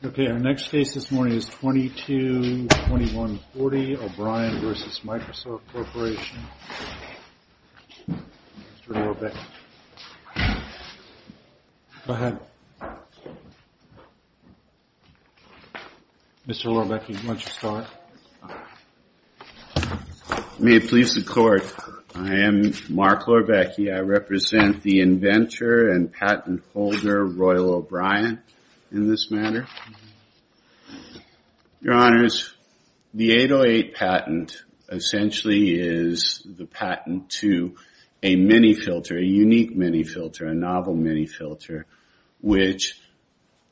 May it please the Court, I am Mark Lorbecki. I represent the inventor and patent holder of Royal O'Brien in this matter. Your Honors, the 808 patent essentially is the patent to a mini-filter, a unique mini-filter, a novel mini-filter, which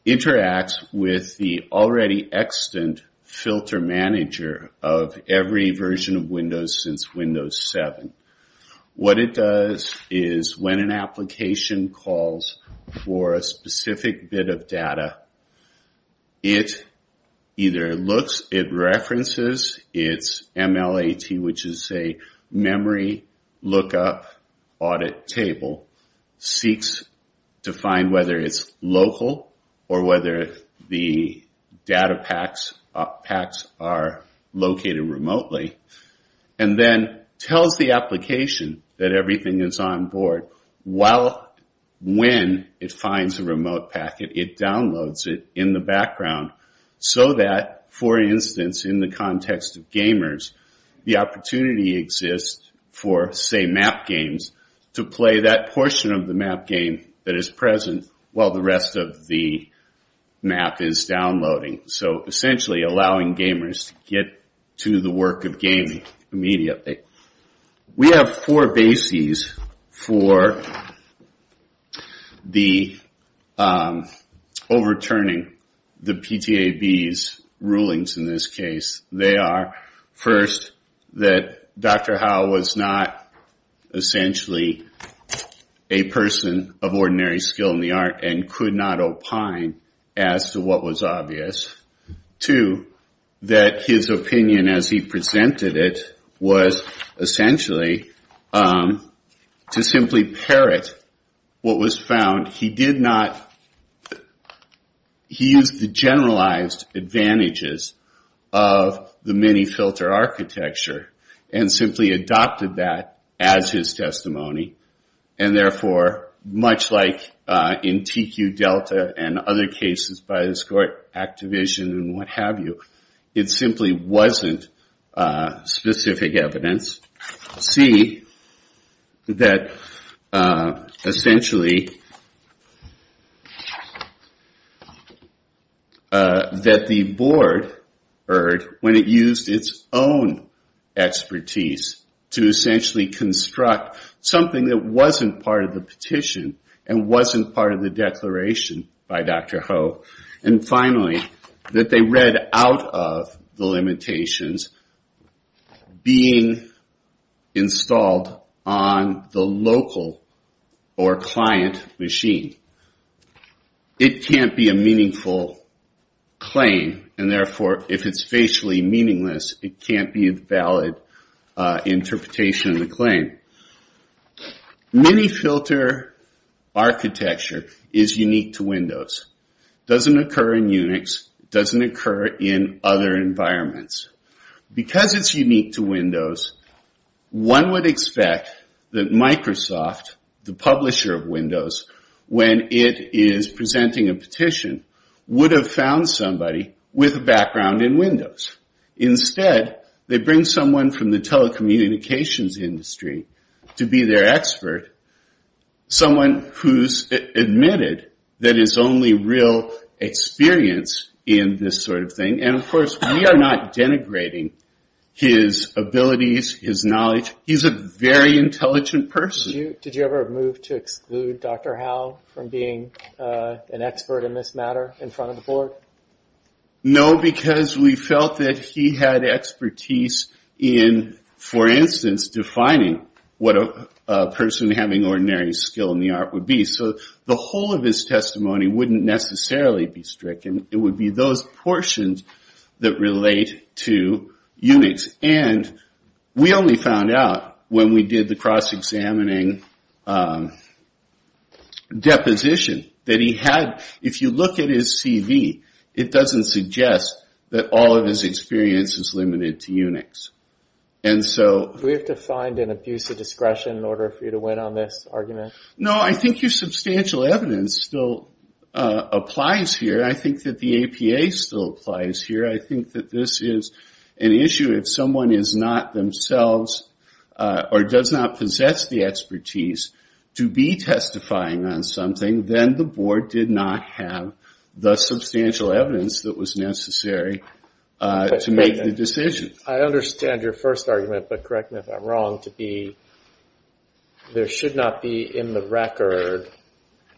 interacts with the already extant filter manager of every version of Windows since Windows 7. What it does is when an application calls for a specific bit of data, it either looks, it references its MLAT, which is a Memory Lookup Audit Table, seeks to find whether it's local or whether the data packs are located remotely, and then tells the application that everything is on board when it finds a remote packet, it downloads it in the background so that, for instance, in the context of gamers, the opportunity exists for say map games to play that portion of the map game that is present while the rest of the map is downloading. So essentially allowing gamers to get to the work of essentially a person of ordinary skill in the art and could not opine as to what was obvious. Two, that his opinion as he presented it was essentially to simply parrot what was in his testimony and therefore, much like in TQ Delta and other cases by this court, Activision and what have you, it simply wasn't specific evidence. C, that essentially that the board heard when it used its own expertise to essentially construct something that wasn't part of the petition and wasn't part of the declaration by Dr. Ho. And finally, that they read out of the MiniFilter architecture is unique to Windows. It doesn't occur in Unix. It doesn't occur in other environments. Because it's unique to Windows, one would expect that Microsoft, the publisher of Windows, when it is found in Windows. Instead, they bring someone from the telecommunications industry to be their expert, someone who's admitted that is only real experience in this sort of thing. And of course, we are not denigrating his abilities, his knowledge. He's a very intelligent person. Did you ever move to exclude Dr. Ho from being an expert in this matter in front of the board? No, because we felt that he had expertise in, for instance, defining what a person having ordinary skill in the art would be. So the whole of his testimony wouldn't necessarily be stricken. It would be those portions that relate to Unix. And we only found out when we did the cross-examining deposition that he had, if you look at his CV, it doesn't suggest that all of his experience is limited to Unix. Do we have to find an abuse of discretion in order for you to win on this argument? No, I think your substantial evidence still applies here. I think that the APA still applies here. I think that this is an issue if someone is not themselves or does not possess the expertise to be testifying on something, then the board did not have the substantial evidence that was necessary to make the decision. I understand your first argument, but correct me if I'm wrong, to be there should not be in the record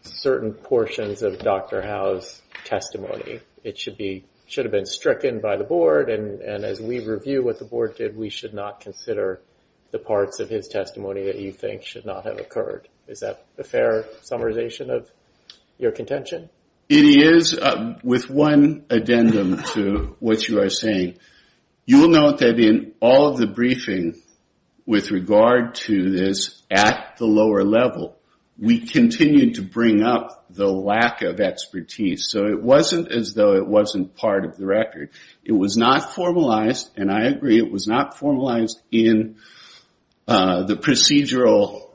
certain portions of Dr. Ho's testimony. It should have been stricken by the board, and as we review what the board did, we should not consider the parts of his testimony that you think should not have occurred. Is that a fair summarization of your contention? It is, with one addendum to what you are saying. You will note that in all of the briefing with regard to this at the lower level, we continued to bring up the lack of expertise. So it wasn't as though it wasn't part of the record. It was not formalized, and I agree, it was not formalized in the procedural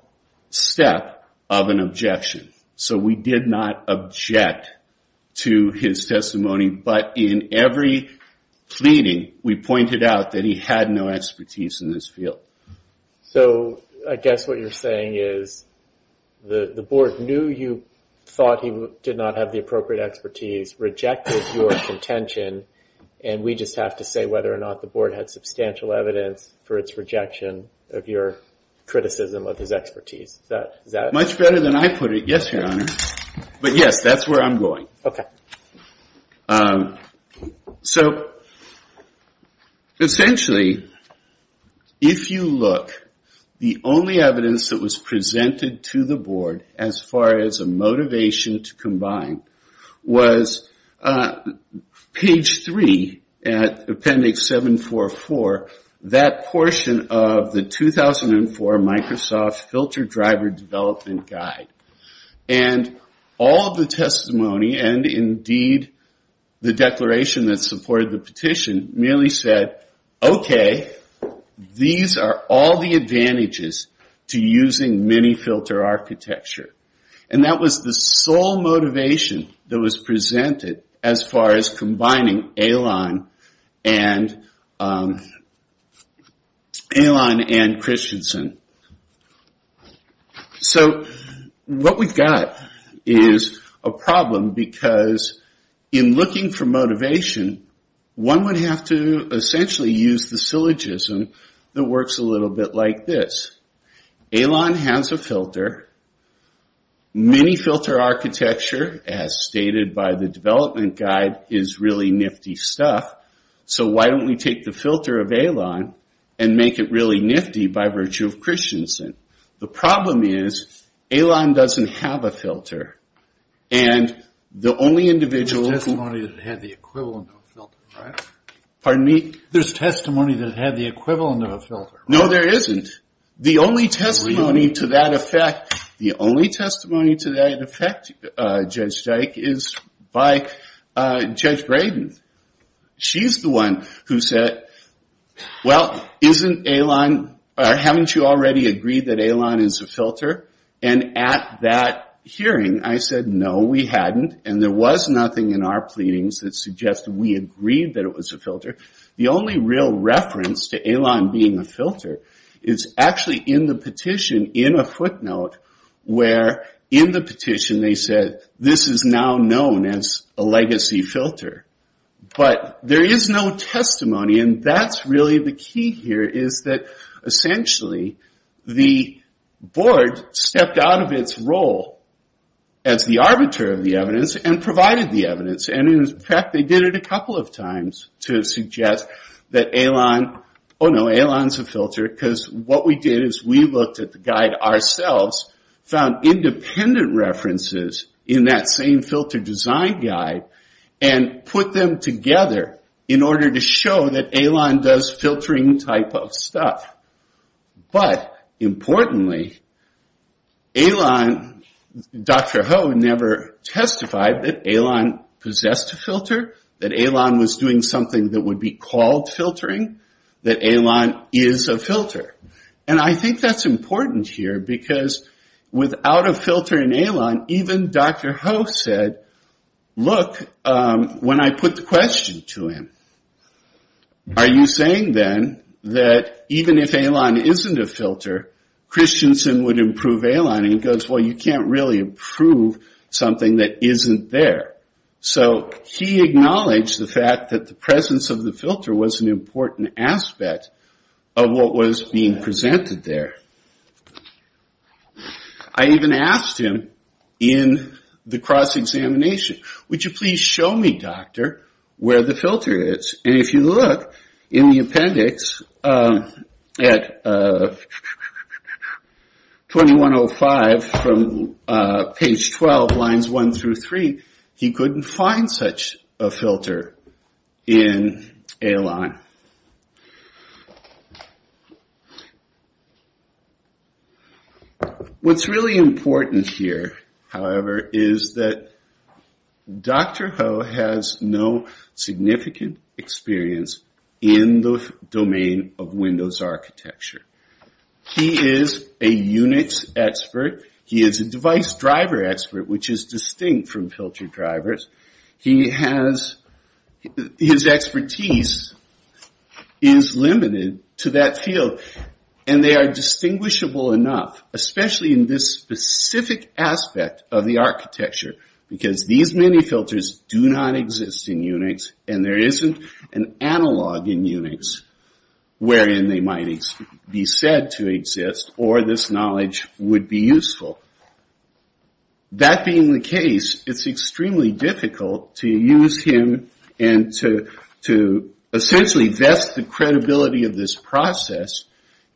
step of an objection. So we did not object to his testimony, but in every pleading, we pointed out that he had no expertise in this field. So I guess what you're saying is the board knew you thought he did not have the appropriate expertise, rejected your contention, and we just have to say whether or not the board had substantial evidence for its rejection of your criticism of his expertise. Is that it? That's better than I put it. Yes, Your Honor. But yes, that's where I'm going. So essentially, if you look, the only evidence that was presented to the board as far as a motivation to combine was page 3 at Appendix 744. That portion of the 2004 Microsoft Filter Driver Development Guide. And all of the testimony, and indeed the declaration that supported the petition, merely said, okay, these are all the advantages to using many filter architecture. And that was the sole motivation that was presented as far as combining Alon and Christensen. So what we've got is a problem because in looking for motivation, one would have to essentially use the syllogism that works a little bit like this. Alon has a filter. Many filter architecture, as stated by the development guide, is really nifty stuff. So why don't we take the filter of Alon and make it really nifty by virtue of Christensen? The problem is, Alon doesn't have a filter. There's testimony that had the equivalent of a filter, right? Pardon me? There's testimony that had the equivalent of a filter. No, there isn't. The only testimony to that effect, Judge Dyke, is by Judge Braden. She's the one who said, well, isn't Alon, or haven't you already agreed that Alon is a filter? And at that hearing, I said, no, we hadn't. And there was nothing in our pleadings that suggested we agreed that it was a filter. The only real reference to Alon being a filter is actually in the petition, in a footnote, where in the petition they said, this is now known as a legacy filter. But there is no testimony, and that's really the key here, is that essentially the board stepped out of its role as the arbiter of the evidence and provided the evidence. And in fact, they did it a couple of times to suggest that Alon, oh no, Alon's a filter, because what we did is we looked at the guide ourselves, found independent references in that same filter design guide, and put them together in order to show that Alon does filtering type of stuff. But importantly, Dr. Ho never testified that Alon possessed a filter, that Alon was doing something that would be called filtering, that Alon is a filter. And I think that's important here, because without a filter in Alon, even Dr. Ho said, look, when I put the question to him, are you saying then that even if Alon isn't a filter, Christensen would improve Alon? And he goes, well, you can't really improve something that isn't there. So he acknowledged the fact that the presence of the filter was an important aspect of what was being presented there. I even asked him in the cross-examination, would you please show me, doctor, where the filter is? And if you look in the appendix at 2105 from page 12, lines one through three, he couldn't find such a filter in Alon. What's really important here, however, is that Dr. Ho has no significant experience in the domain of Windows architecture. He is a units expert. He is a device driver expert, which is distinct from filter drivers. His expertise is limited to that field, and they are distinguishable enough, especially in this specific aspect of the architecture, because these mini-filters do not exist in Unix, and there isn't an analog in Unix wherein they might be said to exist, or this knowledge would be useful. That being the case, it's extremely difficult to use him and to essentially vest the credibility of this process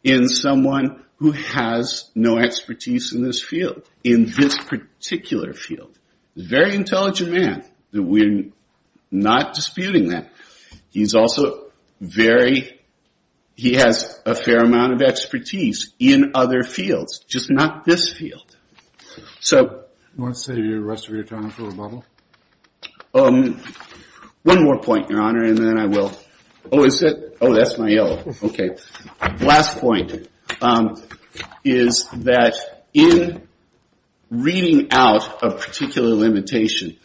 in someone who has no expertise in this field, in this particular field. He's a very intelligent man. We're not disputing that. He's also very, he has a fair amount of expertise in other fields, just not this field. Do you want to save the rest of your time for rebuttal? One more point, Your Honor, and then I will. Oh, is it? Oh, that's my yellow. Okay. Last point is that in reading out a particular limitation,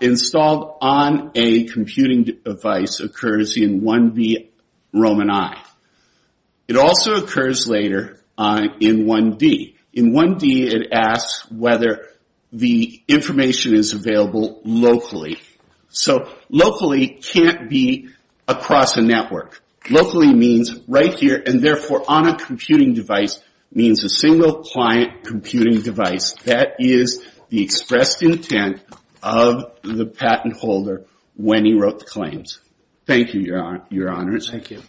installed on a computing device occurs in 1B Roman I. It also occurs later in 1D. In 1D, it asks whether the information is available locally. Locally can't be across a network. Locally means right here, and therefore on a computing device means a single client computing device. That is the expressed intent of the patent holder when he wrote the claims. Thank you, Your Honor. Thank you.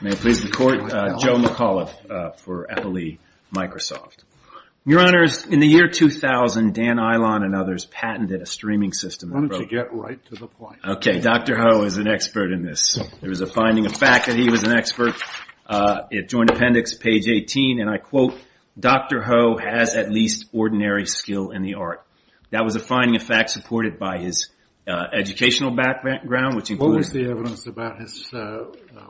May it please the Court, Joe McAuliffe for Eppley Microsoft. Your Honors, in the year 2000, Dan Ilon and others patented a streaming system. Why don't you get right to the point? Okay, Dr. Ho is an expert in this. There was a finding of fact that he was an expert. It joined appendix page 18, and I quote, Dr. Ho has at least ordinary skill in the art. That was a finding of fact supported by his educational background, which includes... What was the evidence about his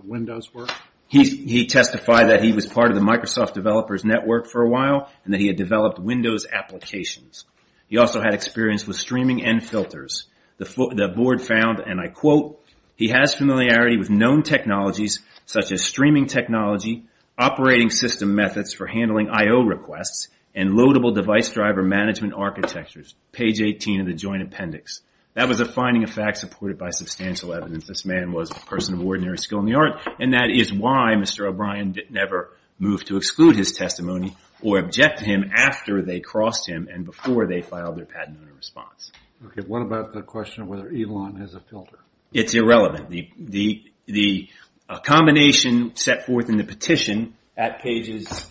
Windows work? He testified that he was part of the Microsoft Developers Network for a while, and that he had developed Windows applications. He also had experience with streaming and filters. The board found, and I quote, he has familiarity with known technologies, such as streaming technology, operating system methods for handling I.O. requests, and loadable device driver management architectures. Page 18 of the joint appendix. That was a finding of fact supported by substantial evidence this man was a person of ordinary skill in the art. And that is why Mr. O'Brien never moved to exclude his testimony or object to him after they crossed him and before they filed their patent owner response. Okay, what about the question of whether Ilon has a filter? It's irrelevant. The combination set forth in the petition at pages...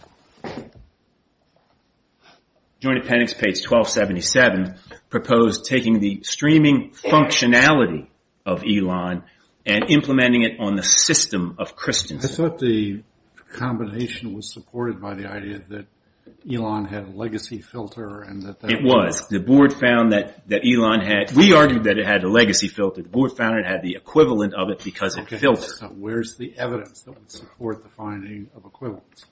Joint appendix page 1277 proposed taking the streaming functionality of Ilon and implementing it on the system of Christiansen. I thought the combination was supported by the idea that Ilon had a legacy filter. It was. The board found that Ilon had... We argued that it had a legacy filter. The board found it had the equivalent of it because of filter. Where's the evidence that would support the finding of equivalence?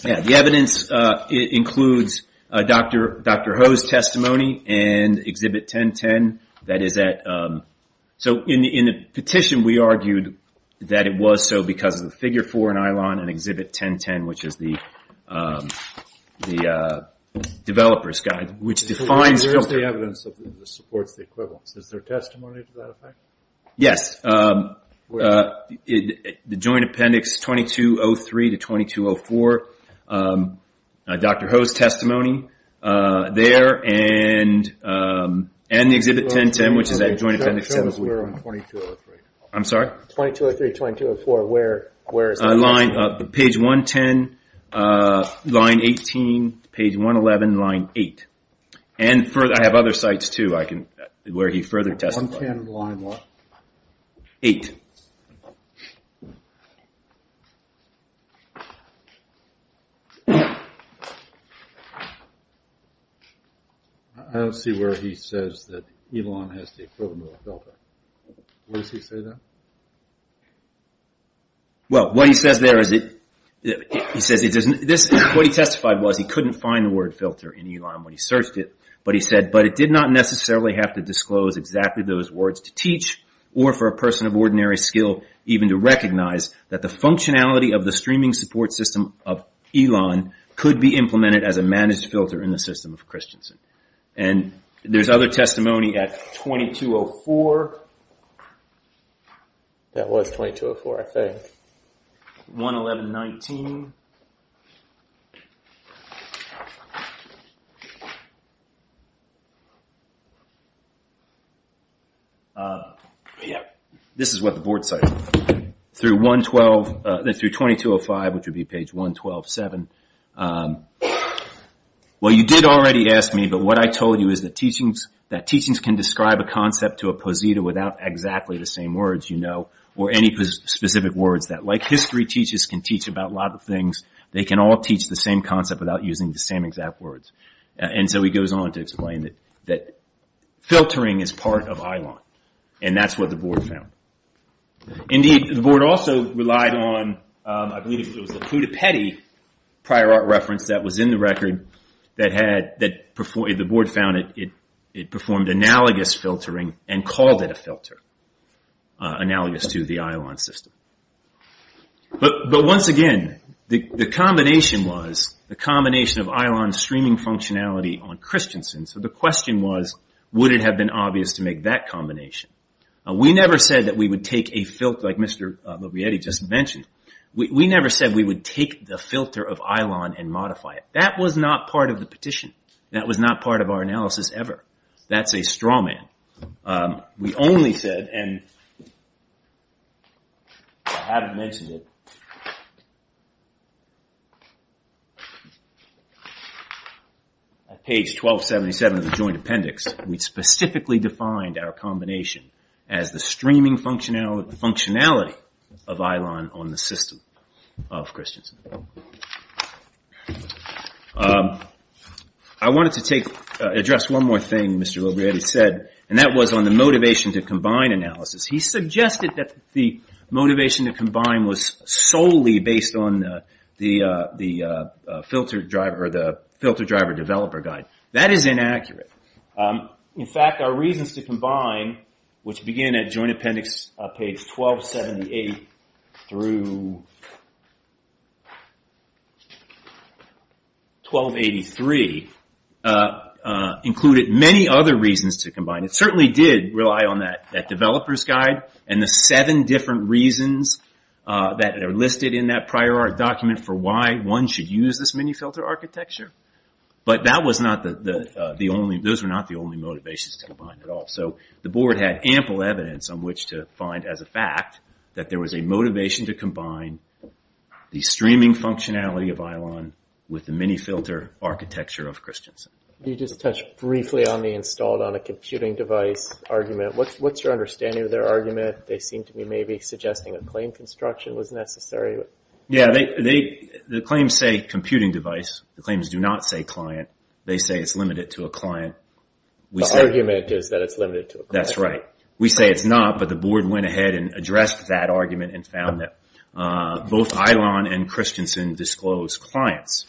The evidence includes Dr. Ho's testimony and Exhibit 1010. In the petition we argued that it was so because of the figure for Ilon and Exhibit 1010, which is the developer's guide, which defines... Where's the evidence that supports the equivalence? Is there testimony to that effect? Yes. The joint appendix 2203 to 2204, Dr. Ho's testimony there and the Exhibit 1010, which is that joint appendix. 2203, 2204, where is that? Page 110, line 18, page 111, line 8. I have other sites too where he further testified. 110, line what? 8. I don't see where he says that Ilon has the equivalent of a filter. Where does he say that? What he testified was he couldn't find the word filter in Ilon when he searched it, but he said, but it did not necessarily have to disclose exactly those words to teach or for a person of ordinary skill even to recognize that the functionality of the streaming support system of Ilon could be implemented as a managed filter in the system of Christensen. There's other testimony at 2204. That was 2204, I think. 11119. This is what the board cited. Through 2205, which would be page 1127. Well, you did already ask me, but what I told you is that teachings can describe a concept to a posita without exactly the same words you know or any specific words that, like history teachers can teach about a lot of things, they can all teach the same concept without using the same exact words. And so he goes on to explain that filtering is part of Ilon, and that's what the board found. Indeed, the board also relied on, I believe it was the Pudipeddy prior art reference that was in the record that the board found it performed analogous filtering and called it a filter, analogous to the Ilon system. But once again, the combination was the combination of Ilon streaming functionality on Christensen. So the question was, would it have been obvious to make that combination? We never said that we would take a filter, like Mr. Bobietti just mentioned. We never said we would take the filter of Ilon and modify it. That was not part of the petition. That was not part of our analysis ever. That's a straw man. We only said, and I haven't mentioned it, page 1277 of the joint appendix, we specifically defined our combination as the streaming functionality of Ilon on the system of Christensen. I wanted to address one more thing Mr. Bobietti said, and that was on the motivation to combine analysis. He suggested that the motivation to combine was solely based on the filter driver developer guide. That is inaccurate. In fact, our reasons to combine, which begin at joint appendix page 1278 through 1283, included many other reasons to combine. It certainly did rely on that developer's guide and the seven different reasons that are listed in that prior art document for why one should use this mini-filter architecture. But those were not the only motivations to combine at all. The board had ample evidence on which to find as a fact that there was a motivation to combine the streaming functionality of Ilon with the mini-filter architecture of Christensen. You just touched briefly on the installed on a computing device argument. What's your understanding of their argument? They seem to be maybe suggesting a claim construction was necessary. The claims say computing device. The claims do not say client. They say it's limited to a client. The argument is that it's limited to a client. That's right. We say it's not, but the board went ahead and addressed that argument and found that both Ilon and Christensen disclose clients.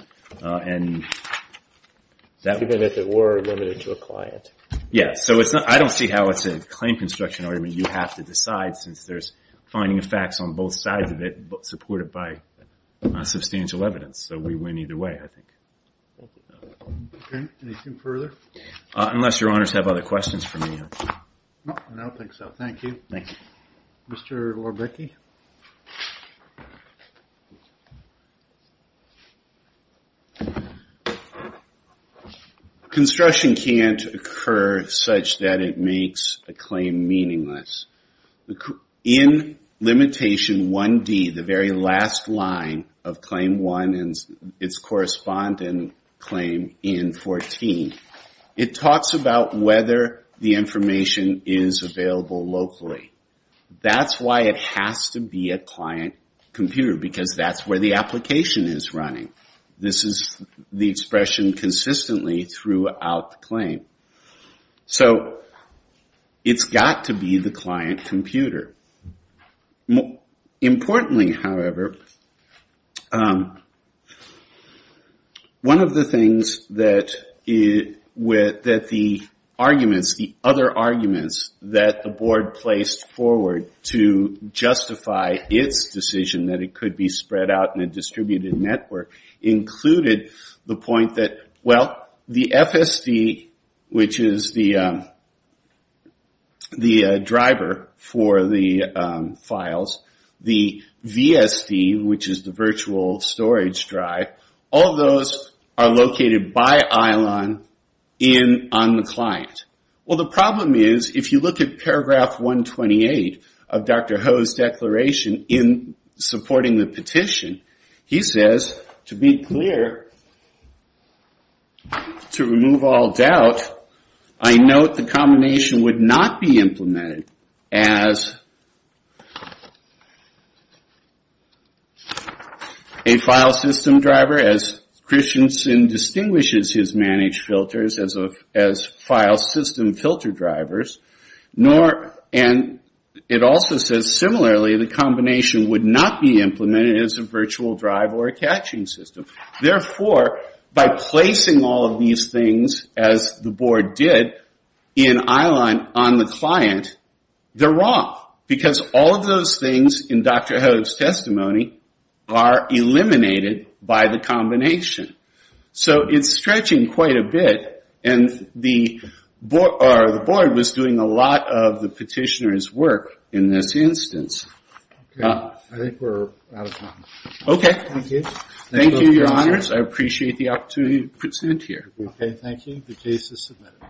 Even if it were limited to a client? Yes. I don't see how it's a claim construction argument you have to decide since there's finding of facts on both sides of it supported by substantial evidence. So we win either way, I think. Okay. Anything further? Unless your honors have other questions for me. No, I don't think so. Thank you. Thank you. Mr. Lorbecki? Construction can't occur such that it makes a claim meaningless. In limitation 1D, the very last line of claim 1 and its corresponding claim in 14, it talks about whether the information is available locally. That's why it has to be a client computer, because that's where the application is running. This is the expression consistently throughout the claim. So it's got to be the client computer. Importantly, however, one of the things that the arguments, the other arguments that the board placed forward to justify its decision that it could be spread out in a distributed network, included the point that, well, the FSD, which is the driver for the files, the VSD, which is the virtual storage drive, all those are located by ILON on the client. Well, the problem is, if you look at paragraph 128 of Dr. Ho's declaration in supporting the petition, he says, to be clear, to remove all doubt, I note the combination would not be implemented as a file system driver, as Christiansen distinguishes his managed filters as file system filter drivers, and it also says, similarly, the combination would not be implemented as a virtual drive or a caching system. Therefore, by placing all of these things as the board did in ILON on the client, they're wrong, because all of those things in Dr. Ho's testimony are eliminated by the combination. So it's stretching quite a bit, and the board was doing a lot of the petitioner's work in this instance. I think we're out of time. Okay. Thank you. Thank you, Your Honors. I appreciate the opportunity to present here. Okay, thank you. The case is submitted.